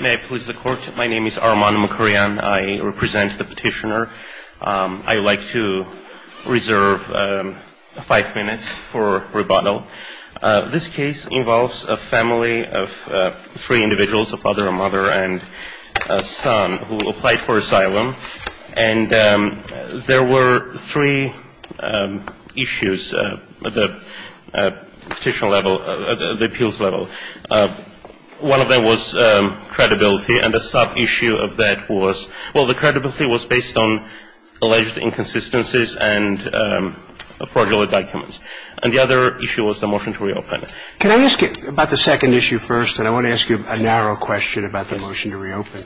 May I please the court? My name is Arman Mukarian. I represent the petitioner. I would like to reserve five minutes for rebuttal. This case involves a family of three individuals, a father, a mother, and a son, who applied for asylum. And there were three issues at the petitioner level, at the appeals level. One of them was credibility, and the sub-issue of that was, well, the credibility was based on alleged inconsistencies and fraudulent documents. And the other issue was the motion to reopen. Can I ask you about the second issue first? And I want to ask you a narrow question about the motion to reopen.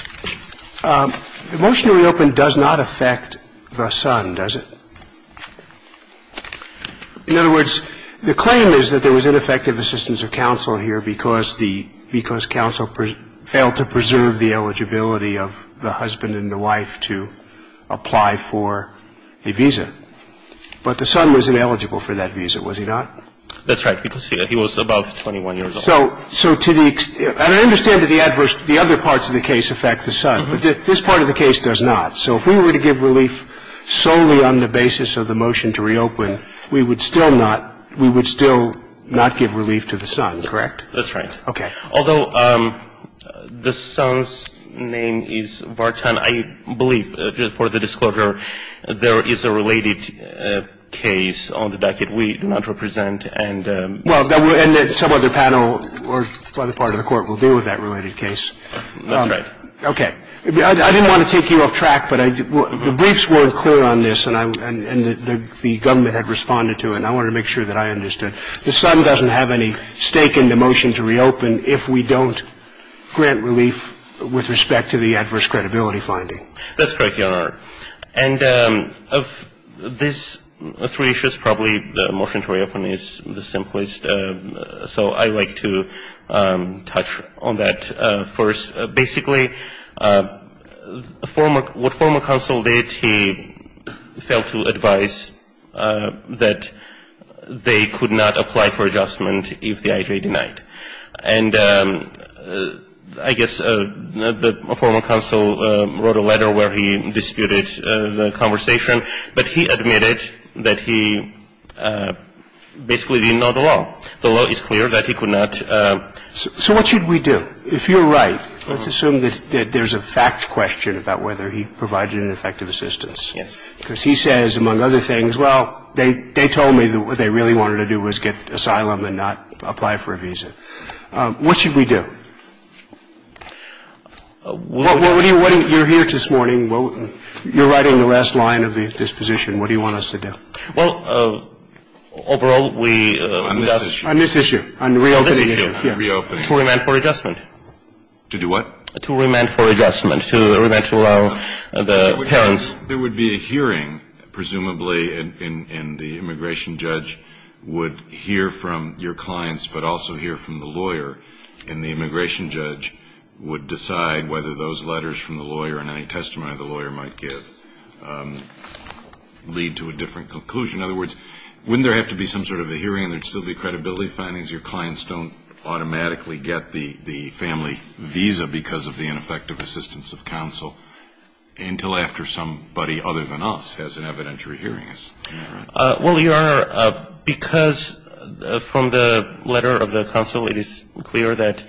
The motion to reopen does not affect the son, does it? In other words, the claim is that there was ineffective assistance of counsel here because the ‑‑ because counsel failed to preserve the eligibility of the husband and the wife to apply for a visa. But the son was ineligible for that visa, was he not? That's right. He was above 21 years old. So to the ‑‑ and I understand that the adverse ‑‑ the other parts of the case affect the son. But this part of the case does not. So if we were to give relief solely on the basis of the motion to reopen, we would still not ‑‑ we would still not give relief to the son. Correct? That's right. Okay. Although the son's name is Vartan, I believe, for the disclosure, there is a related case on the docket we do not represent. Well, and some other panel or other part of the court will deal with that related case. That's right. Okay. I didn't want to take you off track, but the briefs weren't clear on this, and the government had responded to it, and I wanted to make sure that I understood. The son doesn't have any stake in the motion to reopen if we don't grant relief with respect to the adverse credibility finding. That's correct, Your Honor. And of these three issues, probably the motion to reopen is the simplest. So I would like to touch on that first. Basically, what former counsel did, he failed to advise that they could not apply for adjustment if the IJ denied. And I guess the former counsel wrote a letter where he disputed the conversation, but he admitted that he basically did not know the law. The law is clear that he could not. So what should we do? If you're right, let's assume that there's a fact question about whether he provided an effective assistance. Yes. Because he says, among other things, well, they told me what they really wanted to do was get asylum and not apply for a visa. What should we do? You're here this morning. You're writing the last line of the disposition. What do you want us to do? Well, overall, we don't. On this issue. On this issue, on reopening. On this issue, on reopening. To remand for adjustment. To do what? To remand for adjustment, to remand to allow the parents. There would be a hearing, presumably, and the immigration judge would hear from your clients, but also hear from the lawyer, and the immigration judge would decide whether those letters from the lawyer and any testimony the lawyer might give lead to a different conclusion. In other words, wouldn't there have to be some sort of a hearing and there would still be credibility findings? Your clients don't automatically get the family visa because of the ineffective assistance of counsel until after somebody other than us has an evidentiary hearing. Well, you are, because from the letter of the counsel, it is clear that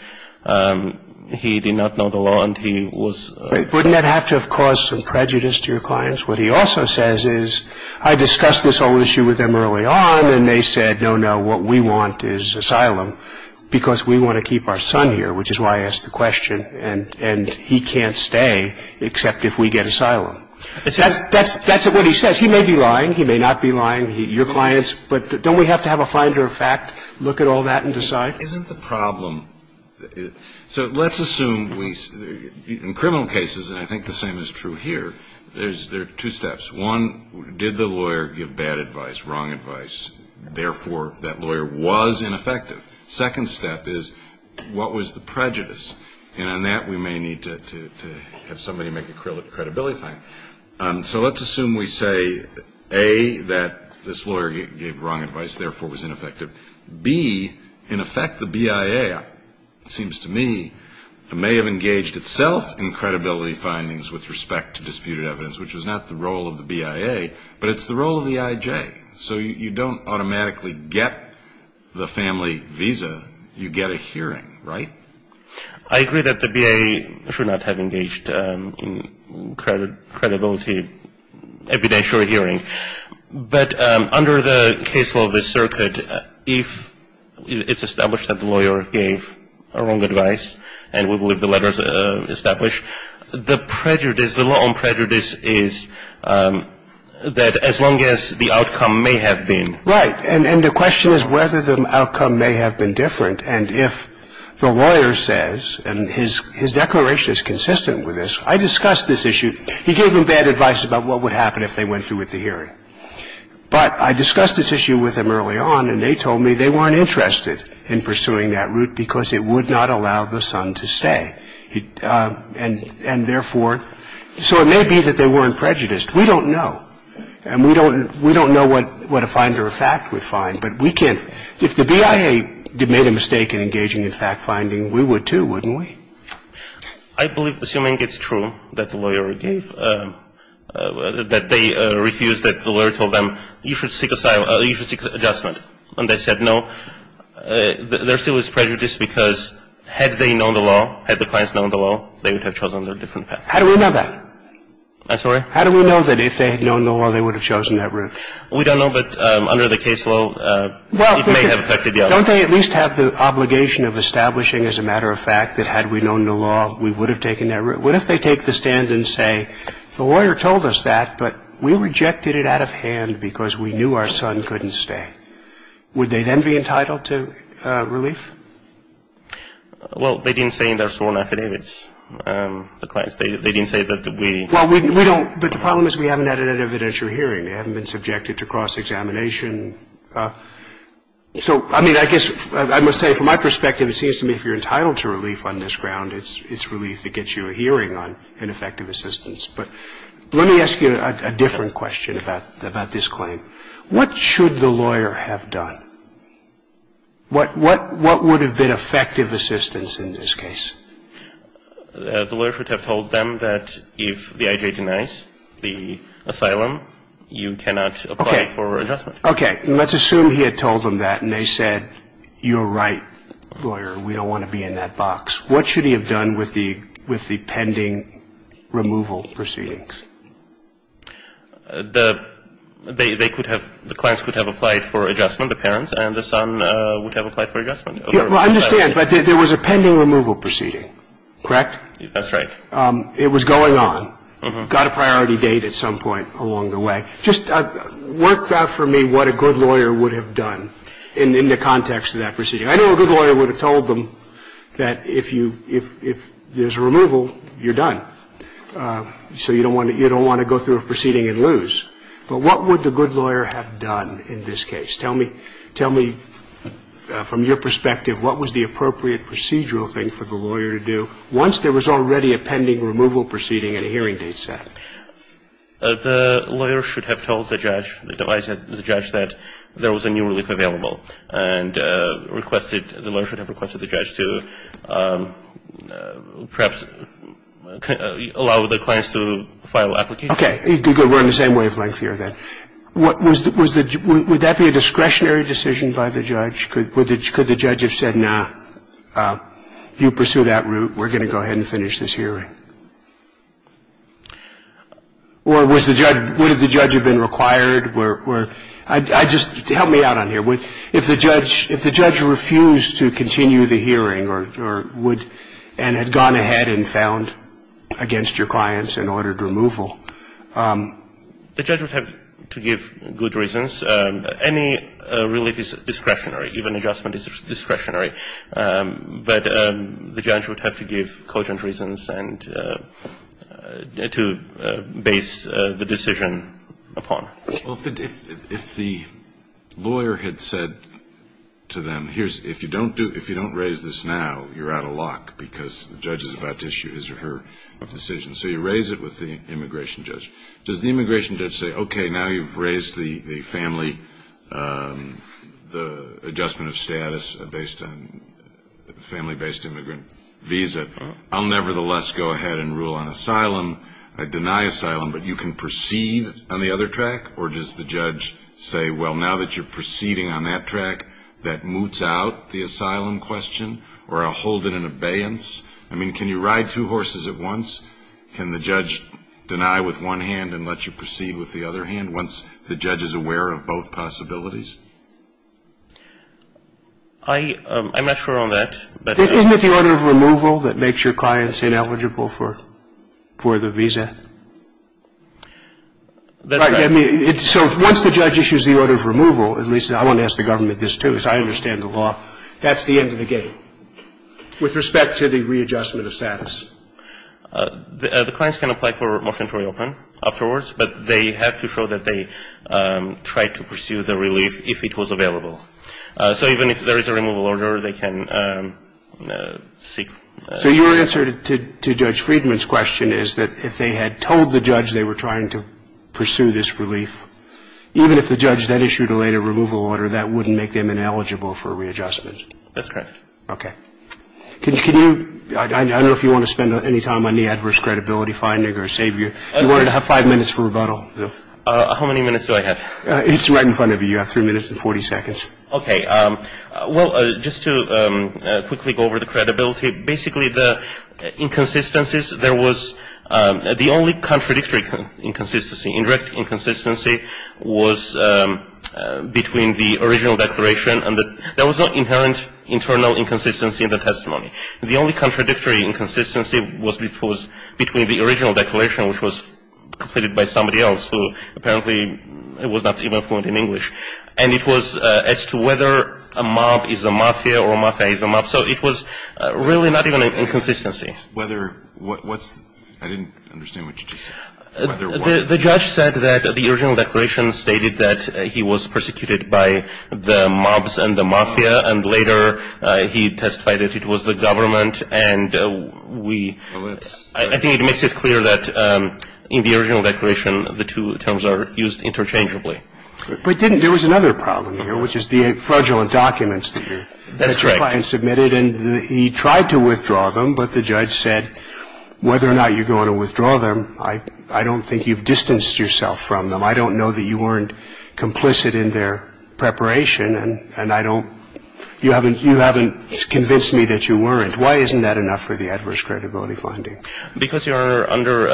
he did not know the law and he was. Wouldn't that have to have caused some prejudice to your clients? What he also says is, I discussed this whole issue with them early on, and they said, no, no, what we want is asylum, because we want to keep our son here, which is why I asked the question, and he can't stay except if we get asylum. That's what he says. He may be lying. He may not be lying. Your clients, but don't we have to have a finder of fact, look at all that and decide? Isn't the problem, so let's assume we, in criminal cases, and I think the same is true here, there are two steps. One, did the lawyer give bad advice, wrong advice? Therefore, that lawyer was ineffective. Second step is, what was the prejudice? And on that, we may need to have somebody make a credibility finding. So let's assume we say, A, that this lawyer gave wrong advice, therefore was ineffective. B, in effect, the BIA, it seems to me, may have engaged itself in credibility findings with respect to disputed evidence, which was not the role of the BIA, but it's the role of the IJ. So you don't automatically get the family visa. You get a hearing, right? I agree that the BIA should not have engaged in credibility, evidentiary hearing. But under the case law of this circuit, if it's established that the lawyer gave wrong advice, and we believe the letters establish, the prejudice, the law on prejudice is that as long as the outcome may have been. Right. And the question is whether the outcome may have been different. And if the lawyer says, and his declaration is consistent with this, I discussed this issue. He gave them bad advice about what would happen if they went through with the hearing. But I discussed this issue with them early on, and they told me they weren't interested in pursuing that route because it would not allow the son to stay. And therefore, so it may be that they weren't prejudiced. We don't know. And we don't know what a finder of fact would find, but we can't. If the BIA made a mistake in engaging in fact-finding, we would, too, wouldn't we? I believe, assuming it's true that the lawyer gave, that they refused, that the lawyer told them, you should seek adjustment. And they said no. There still is prejudice because had they known the law, had the clients known the law, they would have chosen a different path. How do we know that? I'm sorry? How do we know that if they had known the law, they would have chosen that route? We don't know. But under the case law, it may have affected the other. Well, don't they at least have the obligation of establishing, as a matter of fact, that had we known the law, we would have taken that route? What if they take the stand and say, the lawyer told us that, but we rejected it out of hand because we knew our son couldn't stay? Would they then be entitled to relief? Well, they didn't say in their sworn affidavits. The clients, they didn't say that we. Well, we don't. But the problem is we haven't had an evidentiary hearing. They haven't been subjected to cross-examination. So, I mean, I guess I must say, from my perspective, it seems to me if you're entitled to relief on this ground, it's relief that gets you a hearing on ineffective assistance. But let me ask you a different question about this claim. What should the lawyer have done? What would have been effective assistance in this case? The lawyer should have told them that if the I.J. denies the asylum, you cannot apply for adjustment. Okay. Let's assume he had told them that and they said, you're right, lawyer, we don't want to be in that box. What should he have done with the pending removal proceedings? The clients could have applied for adjustment, the parents and the son would have applied for adjustment. Well, I understand, but there was a pending removal proceeding, correct? That's right. It was going on. Got a priority date at some point along the way. Just work out for me what a good lawyer would have done in the context of that proceeding. I know a good lawyer would have told them that if you – if there's a removal, you're done. So you don't want to go through a proceeding and lose. But what would the good lawyer have done in this case? Tell me, from your perspective, what was the appropriate procedural thing for the lawyer to do once there was already a pending removal proceeding and a hearing date set? The lawyer should have told the judge – the judge that there was a new relief available and requested – the lawyer should have requested the judge to perhaps allow the clients to file applications. Okay. Good. We're on the same wavelength here then. Was the – would that be a discretionary decision by the judge? Could the judge have said, no, you pursue that route, we're going to go ahead and finish this hearing? Or was the judge – would the judge have been required – I just – help me out on here. If the judge refused to continue the hearing or would – and had gone ahead and found against your clients and ordered removal. The judge would have to give good reasons. Any relief is discretionary. Even adjustment is discretionary. But the judge would have to give cogent reasons and – to base the decision upon. Well, if the lawyer had said to them, here's – if you don't do – if you don't raise this now, you're out of luck because the judge is about to issue his or her decision. So you raise it with the immigration judge. Does the immigration judge say, okay, now you've raised the family – the adjustment of status based on family-based immigrant visa. I'll nevertheless go ahead and rule on asylum. I deny asylum, but you can proceed on the other track? Or does the judge say, well, now that you're proceeding on that track, that moots out the asylum question? Or I'll hold it in abeyance? I mean, can you ride two horses at once? Can the judge deny with one hand and let you proceed with the other hand once the judge is aware of both possibilities? I'm not sure on that. Isn't it the order of removal that makes your clients ineligible for the visa? That's right. I mean, so once the judge issues the order of removal, at least I want to ask the government this, too, because I understand the law, that's the end of the gate with respect to the readjustment of status. The clients can apply for a motion to reopen afterwards, but they have to show that they tried to pursue the relief if it was available. So even if there is a removal order, they can seek – So your answer to Judge Friedman's question is that if they had told the judge they were trying to pursue this relief, even if the judge then issued a later removal order, that wouldn't make them ineligible for readjustment? That's correct. Okay. Can you – I don't know if you want to spend any time on the adverse credibility finding or save your – you wanted to have five minutes for rebuttal. How many minutes do I have? It's right in front of you. You have three minutes and 40 seconds. Okay. Well, just to quickly go over the credibility, basically the inconsistencies, there was – the only contradictory inconsistency, indirect inconsistency, was between the original declaration and the – the original testimony. The only contradictory inconsistency was between the original declaration, which was completed by somebody else who apparently was not even fluent in English, and it was as to whether a mob is a mafia or a mafia is a mob. So it was really not even an inconsistency. Whether – what's – I didn't understand what you just said. The judge said that the original declaration stated that he was persecuted by the mobs and the mafia, and later he testified that it was the government. And we – I think it makes it clear that in the original declaration, the two terms are used interchangeably. But didn't – there was another problem here, which is the fraudulent documents that your client submitted. That's right. And he tried to withdraw them, but the judge said, whether or not you're going to withdraw them, I don't think you've distanced yourself from them. I don't know that you weren't complicit in their preparation, and I don't – you haven't convinced me that you weren't. Why isn't that enough for the adverse credibility finding? Because you are under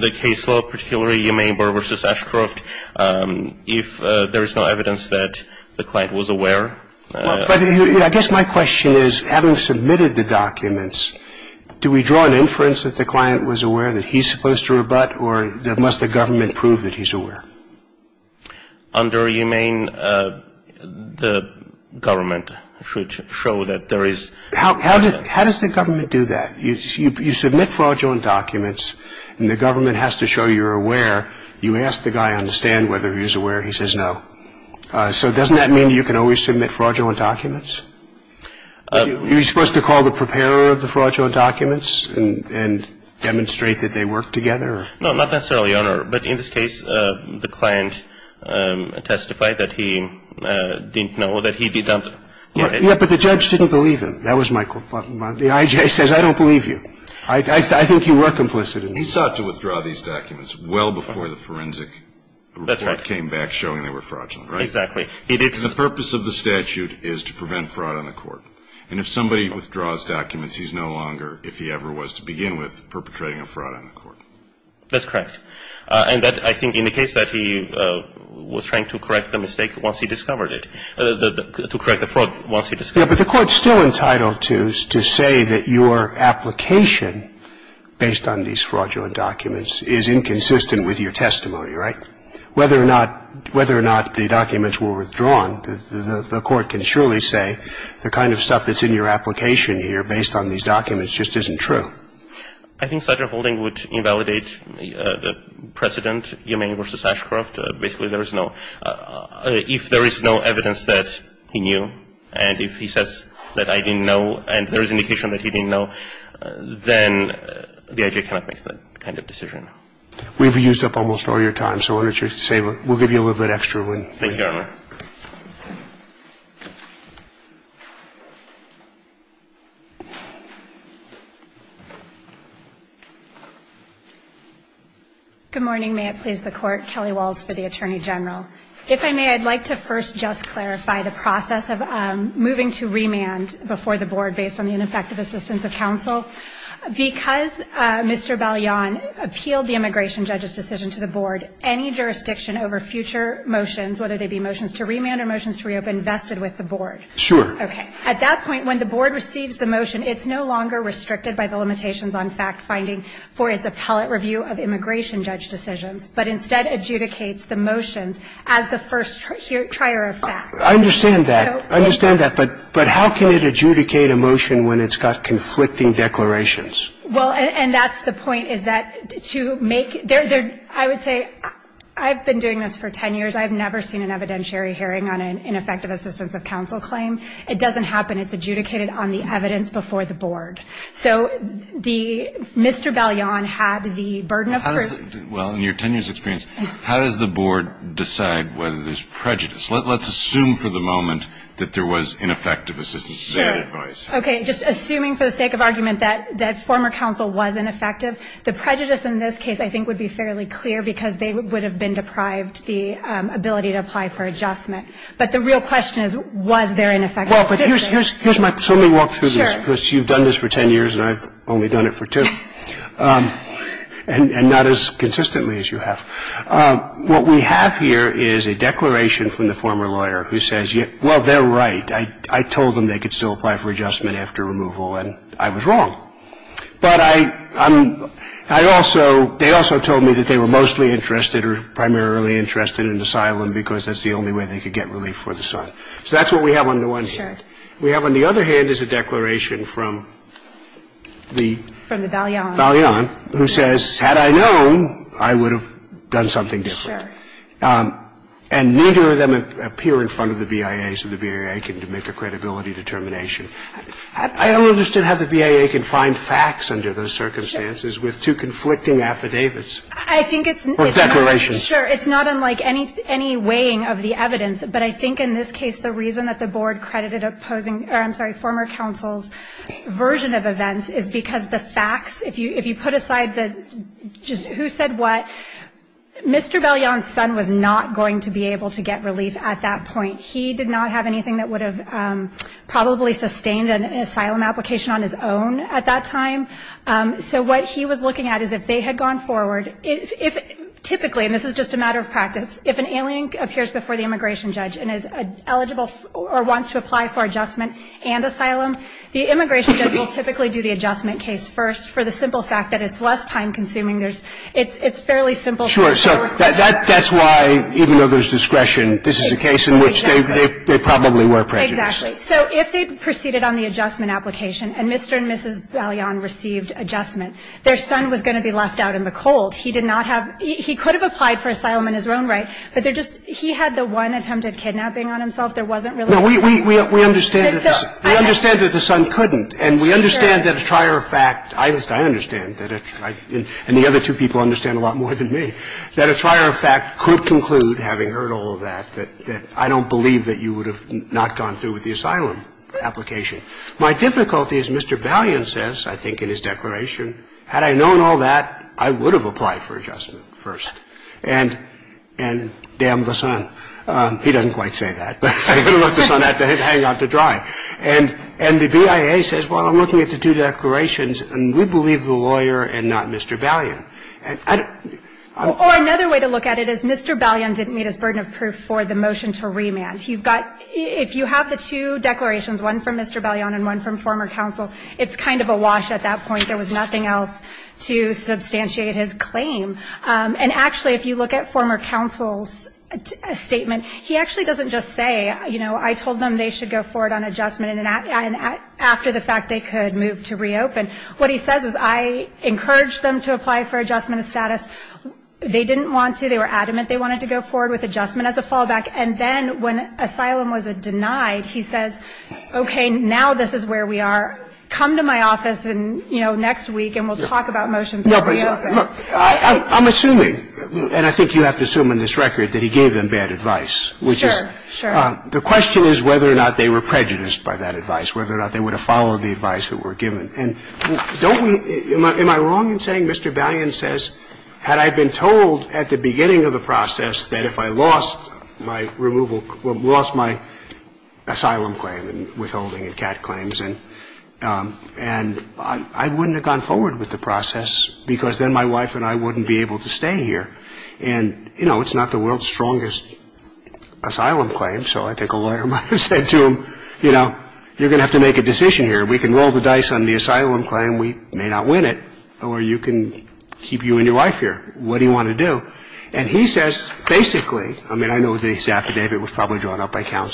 the case law, particularly Yemain Barber v. Ashcroft, if there is no evidence that the client was aware. But I guess my question is, having submitted the documents, do we draw an inference that the client was aware that he's supposed to rebut, or must the government prove that he's aware? Under Yemain, the government should show that there is – How does the government do that? You submit fraudulent documents, and the government has to show you're aware. You ask the guy on the stand whether he's aware, he says no. So doesn't that mean you can always submit fraudulent documents? Are you supposed to call the preparer of the fraudulent documents and demonstrate that they work together? No, not necessarily, Your Honor. But in this case, the client testified that he didn't know that he'd be dumped. Yeah, but the judge didn't believe him. That was my – the I.J. says, I don't believe you. I think you were complicit in this. He sought to withdraw these documents well before the forensic report came back showing they were fraudulent, right? Exactly. The purpose of the statute is to prevent fraud on the court. And if somebody withdraws documents, he's no longer, if he ever was to begin with, perpetrating a fraud on the court. That's correct. And that, I think, indicates that he was trying to correct the mistake once he discovered it, to correct the fraud once he discovered it. Yeah, but the court's still entitled to say that your application, based on these fraudulent documents, is inconsistent with your testimony, right? Whether or not the documents were withdrawn, the court can surely say the kind of stuff that's in your application here, based on these documents, just isn't true. I think such a holding would invalidate the precedent, Umane v. Ashcroft. Basically, there is no – if there is no evidence that he knew and if he says that I didn't know and there is indication that he didn't know, then the I.J. cannot make that kind of decision. We've used up almost all your time, so why don't you say – we'll give you a little bit extra. Thank you, Your Honor. Good morning. May it please the Court. Kelly Walls for the Attorney General. If I may, I'd like to first just clarify the process of moving to remand before the board, based on the ineffective assistance of counsel. Because Mr. Balyan appealed the immigration judge's decision to the board, any jurisdiction over future motions, whether they be motions to remand or motions to reopen, vested with the board? Sure. Okay. At that point, when the board receives the motion, it's no longer restricted by the limitations on fact-finding for its appellate review of immigration judge decisions, but instead adjudicates the motions as the first trier of facts. I understand that. I understand that. But how can it adjudicate a motion when it's got conflicting declarations? Well, and that's the point, is that to make – I would say I've been doing this for 10 years. I have never seen an evidentiary hearing on an ineffective assistance of counsel claim. It doesn't happen. It's adjudicated on the evidence before the board. So the – Mr. Balyan had the burden of proof. Well, in your 10 years' experience, how does the board decide whether there's prejudice? Let's assume for the moment that there was ineffective assistance of their advice. Sure. Okay. Just assuming for the sake of argument that former counsel was ineffective, the prejudice in this case I think would be fairly clear because they would have been deprived the ability to apply for adjustment. But the real question is, was there ineffective assistance? Well, but here's my point. So let me walk through this. Sure. Because you've done this for 10 years and I've only done it for two, and not as consistently as you have. What we have here is a declaration from the former lawyer who says, well, they're right. I told them they could still apply for adjustment after removal and I was wrong. But I'm – I also – they also told me that they were mostly interested or primarily interested in asylum because that's the only way they could get relief for the son. So that's what we have on the one hand. Sure. We have on the other hand is a declaration from the – From the Balyan. Balyan, who says, had I known, I would have done something different. Sure. And neither of them appear in front of the BIA so the BIA can make a credibility determination. I don't understand how the BIA can find facts under those circumstances with two conflicting affidavits. I think it's – Or declarations. Sure. It's not unlike any weighing of the evidence. But I think in this case the reason that the board credited opposing – or I'm sorry, former counsel's version of events is because the facts, if you put aside the just who said what, Mr. Balyan's son was not going to be able to get relief at that point. He did not have anything that would have probably sustained an asylum application on his own at that time. So what he was looking at is if they had gone forward, if – typically, and this is just a matter of practice, if an alien appears before the immigration judge and is eligible or wants to apply for adjustment and asylum, the immigration judge will typically do the adjustment case first for the simple fact that it's less time-consuming. There's – it's fairly simple. Sure. So that's why, even though there's discretion, this is a case in which they probably were prejudiced. Exactly. So if they proceeded on the adjustment application and Mr. and Mrs. Balyan received adjustment, their son was going to be left out in the cold. He did not have – he could have applied for asylum in his own right, but they're And so we have the one attempted kidnapping on himself. There wasn't really a case. No, we understand that the son couldn't. And we understand that a trier of fact – I understand that it's – and the other two people understand a lot more than me – that a trier of fact could conclude, having heard all of that, that I don't believe that you would have not gone through with the asylum application. My difficulty is Mr. Balyan says, I think in his declaration, had I known all that, I would have applied for adjustment first. And damn the son. He doesn't quite say that, but I'm going to let the son have to hang out to dry. And the BIA says, well, I'm looking at the two declarations, and we believe the lawyer and not Mr. Balyan. And I don't – Or another way to look at it is Mr. Balyan didn't meet his burden of proof for the motion to remand. He's got – if you have the two declarations, one from Mr. Balyan and one from former counsel, it's kind of a wash at that point. There was nothing else to substantiate his claim. And actually, if you look at former counsel's statement, he actually doesn't just say, you know, I told them they should go forward on adjustment and after the fact they could move to reopen. What he says is, I encouraged them to apply for adjustment of status. They didn't want to. They were adamant they wanted to go forward with adjustment as a fallback. And then when asylum was denied, he says, okay, now this is where we are. Come to my office, you know, next week and we'll talk about motions. Now, I'm assuming, and I think you have to assume in this record, that he gave them bad advice, which is the question is whether or not they were prejudiced by that advice, whether or not they would have followed the advice that were given. And don't we – am I wrong in saying Mr. Balyan says, had I been told at the beginning of the process that if I lost my removal – lost my asylum claim and withholding of CAT claims, and I wouldn't have gone forward with the process because then my wife and I wouldn't be able to stay here. And, you know, it's not the world's strongest asylum claim, so I think a lawyer might have said to him, you know, you're going to have to make a decision here. We can roll the dice on the asylum claim. We may not win it. Or you can keep you and your wife here. What do you want to do? And he says, basically – I mean, I know the affidavit was probably drawn up by Had I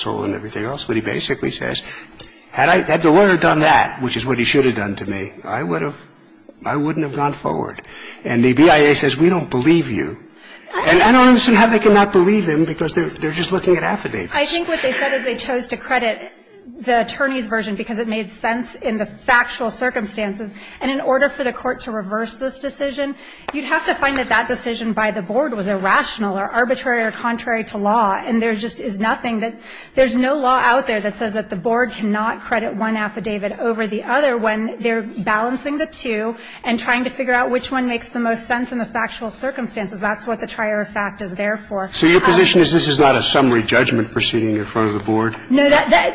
– had the lawyer done that, which is what he should have done to me, I would have – I wouldn't have gone forward. And the BIA says, we don't believe you. And I don't understand how they cannot believe him because they're just looking at affidavits. I think what they said is they chose to credit the attorney's version because it made sense in the factual circumstances. And in order for the Court to reverse this decision, you'd have to find that that decision by the board was irrational or arbitrary or contrary to law, and there is no way that the board cannot credit one affidavit over the other when they're balancing the two and trying to figure out which one makes the most sense in the factual circumstances. That's what the trier of fact is there for. So your position is this is not a summary judgment proceeding in front of the board? No.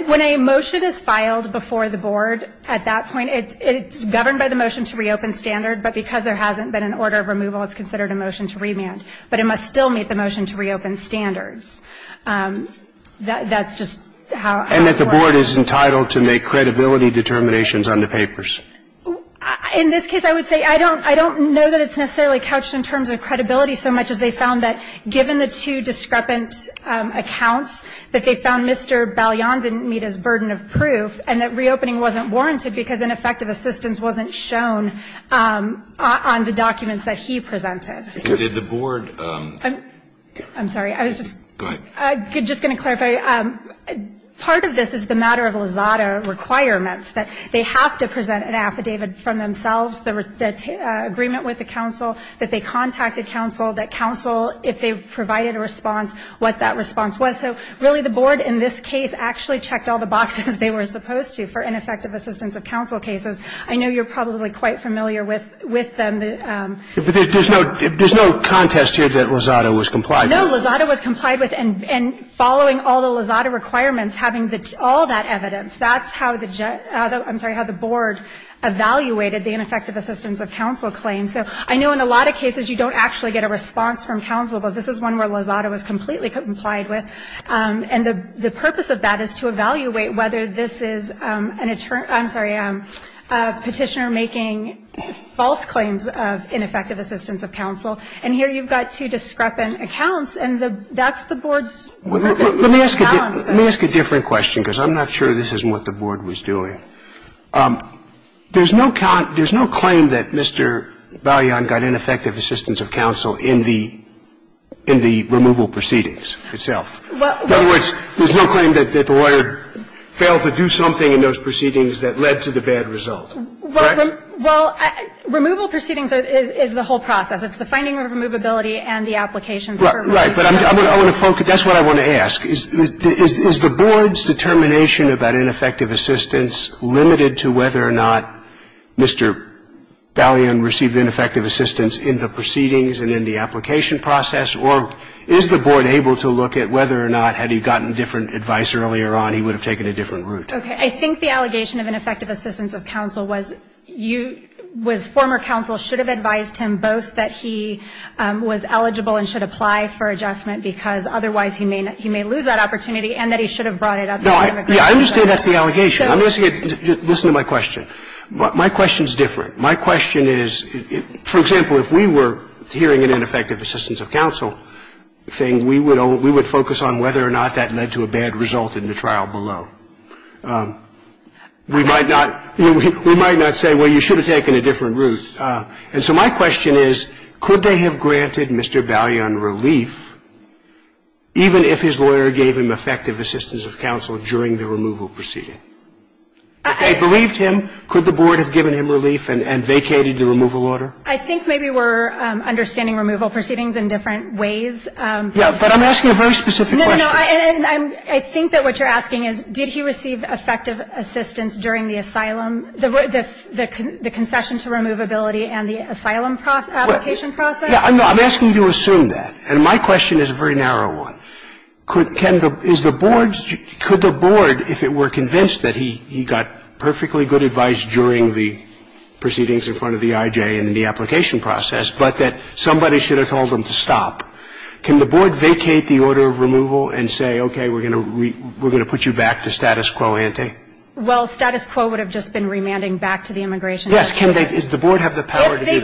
When a motion is filed before the board at that point, it's governed by the motion to reopen standard, but because there hasn't been an order of removal, it's considered a motion to remand. But it must still meet the motion to reopen standards. That's just how I would put it. And that the board is entitled to make credibility determinations on the papers? In this case, I would say I don't know that it's necessarily couched in terms of credibility so much as they found that given the two discrepant accounts, that they found Mr. Ballion didn't meet his burden of proof and that reopening wasn't warranted because ineffective assistance wasn't shown on the documents that he presented. Did the board? I'm sorry. I was just going to clarify. Part of this is the matter of Lizada requirements, that they have to present an affidavit from themselves, the agreement with the counsel, that they contacted counsel, that counsel, if they've provided a response, what that response was. So really the board in this case actually checked all the boxes they were supposed to for ineffective assistance of counsel cases. I know you're probably quite familiar with them. There's no contest here that Lizada was complied with. No. Lizada was complied with. And following all the Lizada requirements, having all that evidence, that's how the judge – I'm sorry, how the board evaluated the ineffective assistance of counsel claims. So I know in a lot of cases you don't actually get a response from counsel, but this is one where Lizada was completely complied with. And the purpose of that is to evaluate whether this is an attorney – I'm sorry, a petitioner making false claims of ineffective assistance of counsel. And here you've got two discrepant accounts, and that's the board's purpose. Let me ask a different question, because I'm not sure this is what the board was doing. There's no claim that Mr. Balian got ineffective assistance of counsel in the removal proceedings itself. In other words, there's no claim that the lawyer failed to do something in those cases. So what is the bad result? Well, removal proceedings is the whole process. It's the finding of removability and the application for removal. Right. But I want to focus – that's what I want to ask. Is the board's determination about ineffective assistance limited to whether or not Mr. Balian received ineffective assistance in the proceedings and in the application process? Or is the board able to look at whether or not had he gotten different advice earlier on, he would have taken a different route? Okay. I think the allegation of ineffective assistance of counsel was you – was former counsel should have advised him both that he was eligible and should apply for adjustment, because otherwise he may – he may lose that opportunity, and that he should have brought it up in the immigration court. No, I – yeah, I understand that's the allegation. I'm just – listen to my question. My question's different. My question is, for example, if we were hearing an ineffective assistance of counsel thing, we would focus on whether or not that led to a bad result in the trial below. We might not – we might not say, well, you should have taken a different route. And so my question is, could they have granted Mr. Balian relief even if his lawyer gave him effective assistance of counsel during the removal proceeding? If they believed him, could the board have given him relief and vacated the removal I think maybe we're understanding removal proceedings in different ways. Yeah, but I'm asking a very specific question. No, no, no. And I'm – I think that what you're asking is, did he receive effective assistance during the asylum – the concession to removability and the asylum application process? Yeah. I'm asking you to assume that. And my question is a very narrow one. Could – can the – is the board – could the board, if it were convinced that he got perfectly good advice during the proceedings in front of the IJ in the application process, but that somebody should have told them to stop, can the board vacate the order of removal and say, okay, we're going to put you back to status quo ante? Well, status quo would have just been remanding back to the immigration court. Yes. Can they – does the board have the power to do that? If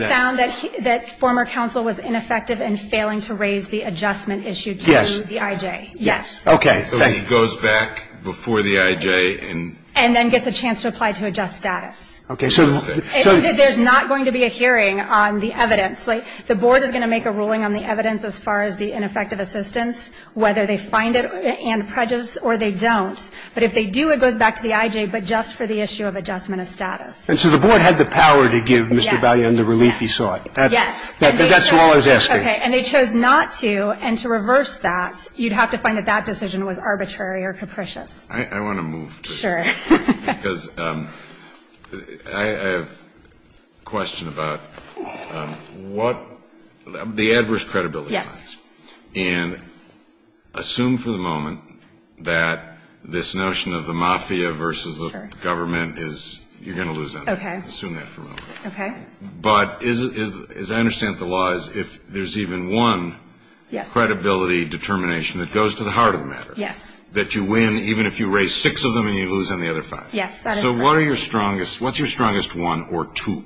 they found that former counsel was ineffective and failing to raise the adjustment issue to the IJ. Yes. Okay. So he goes back before the IJ and – And then gets a chance to apply to adjust status. Okay. So – so – There's not going to be a hearing on the evidence. The board is going to make a ruling on the evidence as far as the ineffective assistance, whether they find it and prejudice or they don't. But if they do, it goes back to the IJ, but just for the issue of adjustment of status. And so the board had the power to give Mr. Valle the relief he sought. Yes. That's all I was asking. Okay. And they chose not to. And to reverse that, you'd have to find that that decision was arbitrary or capricious. I want to move to this. Sure. Because I have a question about what – the adverse credibility. Yes. And assume for the moment that this notion of the mafia versus the government is – you're going to lose on that. Okay. Assume that for a moment. Okay. But as I understand the law is if there's even one credibility determination that goes to the heart of the matter. Yes. That you win even if you raise six of them and you lose on the other five. Yes, that is correct. So what are your strongest – what's your strongest one or two,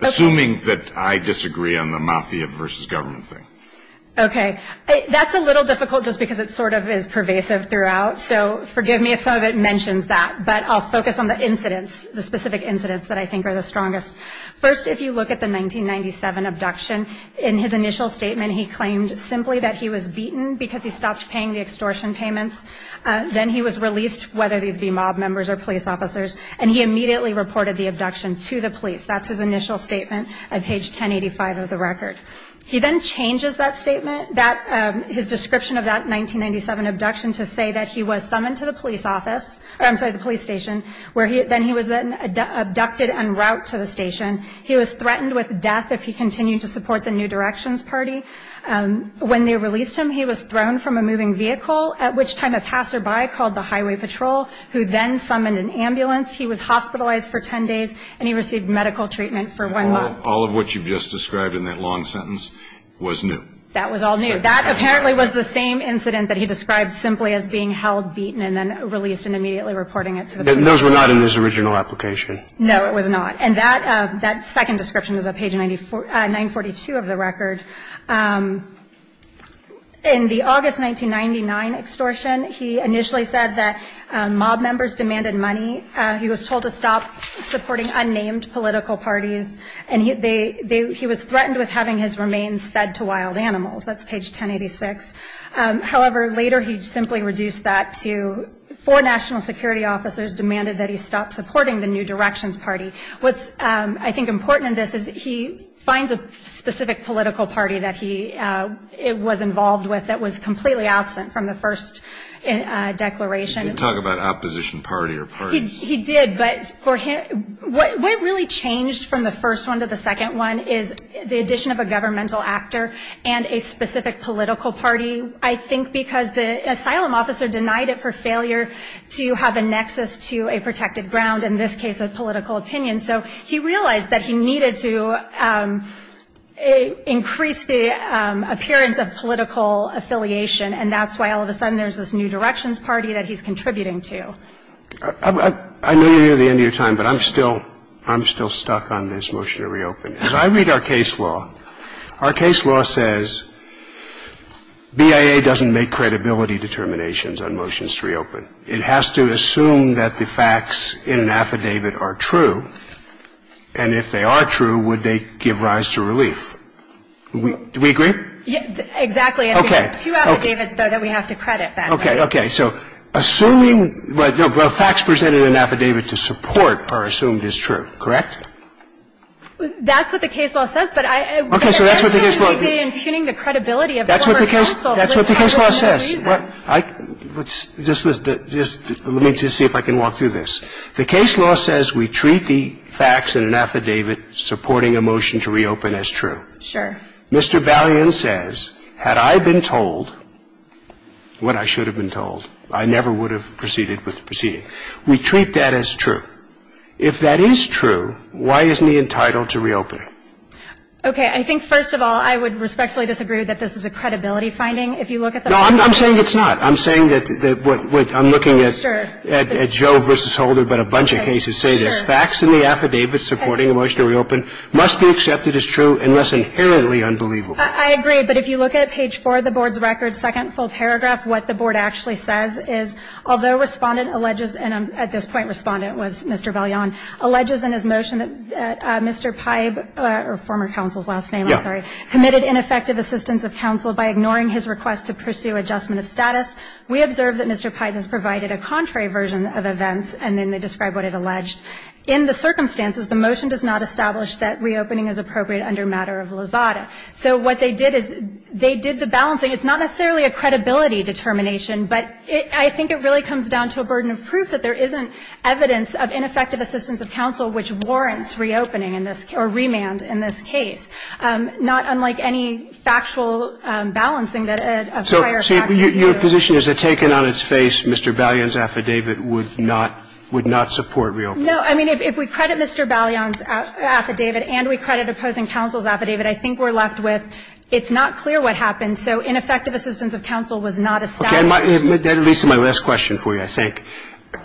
assuming that I disagree on the mafia versus government thing? Okay. That's a little difficult just because it sort of is pervasive throughout. So forgive me if some of it mentions that, but I'll focus on the incidents, the specific incidents that I think are the strongest. First, if you look at the 1997 abduction, in his initial statement he claimed simply that he was beaten because he stopped paying the extortion payments. Then he was released, whether these be mob members or police officers, and he immediately reported the abduction to the police. That's his initial statement at page 1085 of the record. He then changes that statement, his description of that 1997 abduction, to say that he was summoned to the police office – I'm sorry, the police station, where he – then he was abducted en route to the station. He was threatened with death if he continued to support the New Directions Party. When they released him, he was thrown from a moving vehicle, at which time a passerby called the highway patrol, who then summoned an ambulance. He was hospitalized for 10 days, and he received medical treatment for one month. All of what you've just described in that long sentence was new. That was all new. That apparently was the same incident that he described simply as being held, beaten, and then released and immediately reporting it to the police. Those were not in his original application. No, it was not. And that second description is at page 942 of the record. In the August 1999 extortion, he initially said that mob members demanded money. He was told to stop supporting unnamed political parties, and he was threatened with having his remains fed to wild animals. That's page 1086. However, later he simply reduced that to four national security officers demanded that he stop supporting the New Directions Party. What's, I think, important in this is he finds a specific political party that he was involved with that was completely absent from the first declaration. He didn't talk about opposition party or parties. He did, but what really changed from the first one to the second one is the addition of a governmental actor and a specific political party, I think, because the asylum officer denied it for failure to have a nexus to a protected ground, in this case a political opinion. So he realized that he needed to increase the appearance of political affiliation, and that's why all of a sudden there's this New Directions Party that he's contributing to. I know you're near the end of your time, but I'm still stuck on this motion to reopen. As I read our case law, our case law says BIA doesn't make credibility determinations on motions to reopen. It has to assume that the facts in an affidavit are true, and if they are true, would they give rise to relief. Do we agree? Exactly. Okay. I think there are two affidavits, though, that we have to credit, by the way. Okay. Okay. So assuming facts presented in an affidavit to support are assumed is true, correct? That's what the case law says, but I don't think it would be impugning the credibility of former counsel. That's what the case law says. Let me just see if I can walk through this. The case law says we treat the facts in an affidavit supporting a motion to reopen as true. Sure. Mr. Balian says, had I been told what I should have been told, I never would have proceeded with the proceeding. We treat that as true. If that is true, why isn't he entitled to reopen? Okay. I think, first of all, I would respectfully disagree that this is a credibility finding if you look at the facts. No, I'm saying it's not. I'm saying that what I'm looking at Joe versus Holder, but a bunch of cases say this. Sure. Facts in the affidavit supporting a motion to reopen must be accepted as true unless inherently unbelievable. I agree. But if you look at page 4 of the Board's record, second full paragraph, what the Board actually says is, although Respondent alleges, and at this point Respondent was Mr. Balian, alleges in his motion that Mr. Pybe, or former counsel's last name, I'm sorry, committed ineffective assistance of counsel by ignoring his request to pursue adjustment of status. We observe that Mr. Pybe has provided a contrary version of events, and then they describe what it alleged. In the circumstances, the motion does not establish that reopening is appropriate under matter of lazada. So what they did is they did the balancing. I mean, it's not necessarily a credibility determination, but I think it really comes down to a burden of proof that there isn't evidence of ineffective assistance of counsel which warrants reopening in this or remand in this case, not unlike any factual balancing that a prior fact is due. So your position is that taken on its face, Mr. Balian's affidavit would not support reopening? No. I mean, if we credit Mr. Balian's affidavit and we credit opposing counsel's it's not clear what happened. So ineffective assistance of counsel was not established. That leads to my last question for you, I think.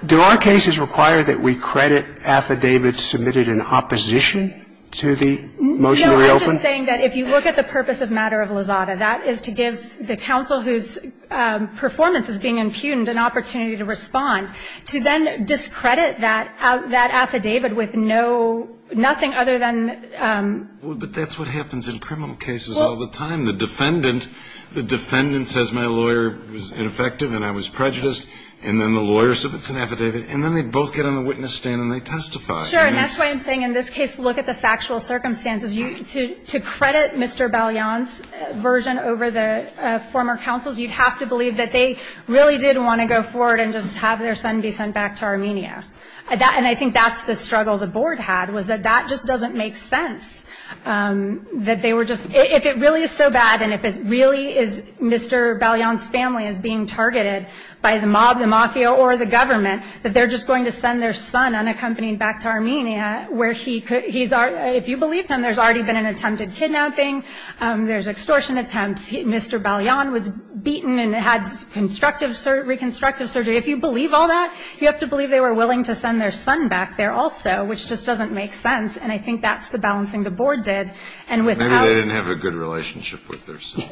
Do our cases require that we credit affidavits submitted in opposition to the motion to reopen? No, I'm just saying that if you look at the purpose of matter of lazada, that is to give the counsel whose performance is being impugned an opportunity to respond, to then discredit that affidavit with no, nothing other than. But that's what happens in criminal cases all the time. The defendant says my lawyer was ineffective and I was prejudiced. And then the lawyer submits an affidavit. And then they both get on the witness stand and they testify. Sure. And that's why I'm saying in this case, look at the factual circumstances. To credit Mr. Balian's version over the former counsel's, you'd have to believe that they really did want to go forward and just have their son be sent back to Armenia. And I think that's the struggle the board had, was that that just doesn't make sense. That they were just, if it really is so bad and if it really is Mr. Balian's family is being targeted by the mob, the mafia, or the government, that they're just going to send their son unaccompanied back to Armenia where he could, he's already, if you believe him, there's already been an attempted kidnapping. There's extortion attempts. Mr. Balian was beaten and had reconstructive surgery. If you believe all that, you have to believe they were willing to send their son back there also, which just doesn't make sense. And I think that's the balancing the board did. And without. Maybe they didn't have a good relationship with their son.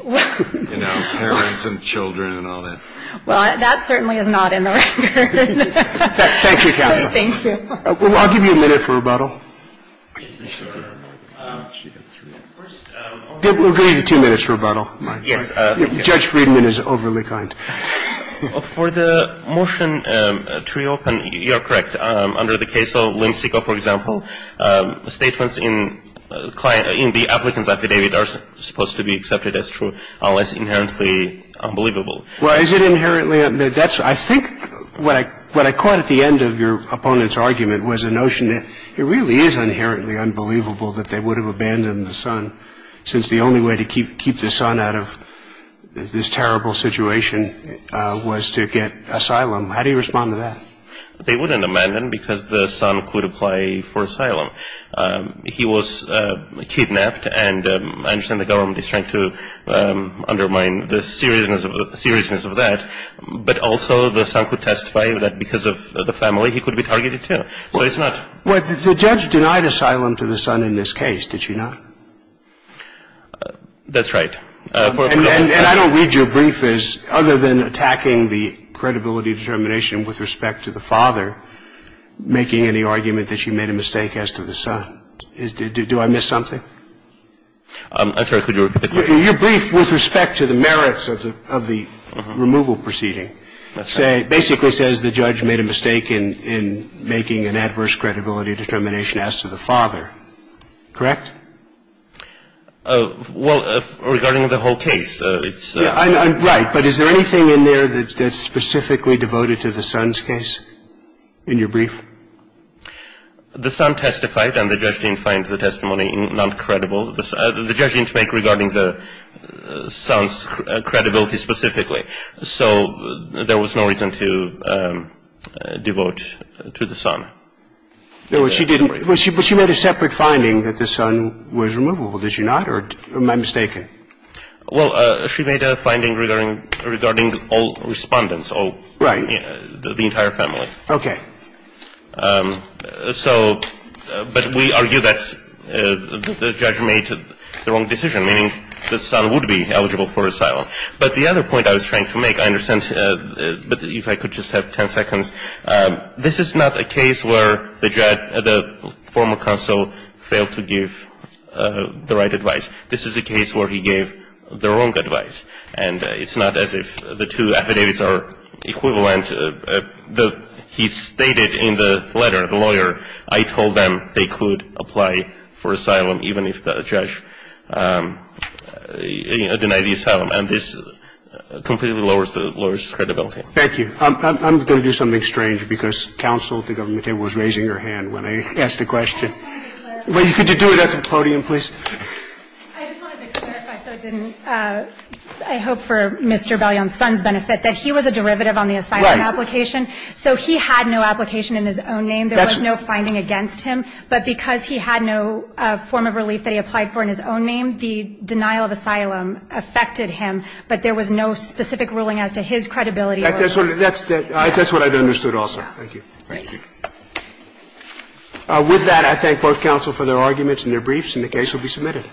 You know, parents and children and all that. Well, that certainly is not in the record. Thank you, counsel. Thank you. I'll give you a minute for rebuttal. We'll give you two minutes for rebuttal. Judge Friedman is overly kind. For the motion to reopen, you're correct. Under the case of Lensiko, for example, statements in the applicant's affidavit are supposed to be accepted as true unless inherently unbelievable. Well, is it inherently? I think what I caught at the end of your opponent's argument was a notion that it really is inherently unbelievable that they would have abandoned the son since the only way to keep the son out of this terrible situation was to get asylum. How do you respond to that? They wouldn't abandon because the son could apply for asylum. He was kidnapped, and I understand the government is trying to undermine the seriousness of that. But also the son could testify that because of the family he could be targeted, too. So it's not. Well, the judge denied asylum to the son in this case, did she not? That's right. And I don't read your brief as other than attacking the credibility determination with respect to the father making any argument that she made a mistake as to the son. Do I miss something? I'm sorry. Could you repeat the question? Your brief with respect to the merits of the removal proceeding basically says the judge made a mistake in making an adverse credibility determination as to the father. Correct? Well, regarding the whole case, it's — Right. But is there anything in there that's specifically devoted to the son's case in your brief? The son testified, and the judge didn't find the testimony not credible. The judge didn't make regarding the son's credibility specifically. So there was no reason to devote to the son. No, she didn't. But she made a separate finding that the son was removable, did she not? Or am I mistaken? Well, she made a finding regarding all respondents. Right. The entire family. Okay. So — but we argue that the judge made the wrong decision, meaning the son would be eligible for asylum. But the other point I was trying to make, I understand, but if I could just have 10 seconds. This is not a case where the former consul failed to give the right advice. This is a case where he gave the wrong advice. And it's not as if the two affidavits are equivalent. He stated in the letter, the lawyer, I told them they could apply for asylum even if the judge denied the asylum. And this completely lowers the lawyer's credibility. Thank you. I'm going to do something strange, because counsel at the government table was raising her hand when I asked the question. Well, could you do it at the podium, please? I just wanted to clarify, so I didn't — I hope for Mr. Belion's son's benefit, that he was a derivative on the asylum application. Right. So he had no application in his own name. There was no finding against him. But because he had no form of relief that he applied for in his own name, the denial of asylum affected him. But there was no specific ruling as to his credibility. That's what I've understood also. Thank you. Thank you. With that, I thank both counsel for their arguments and their briefs, and the case will be submitted.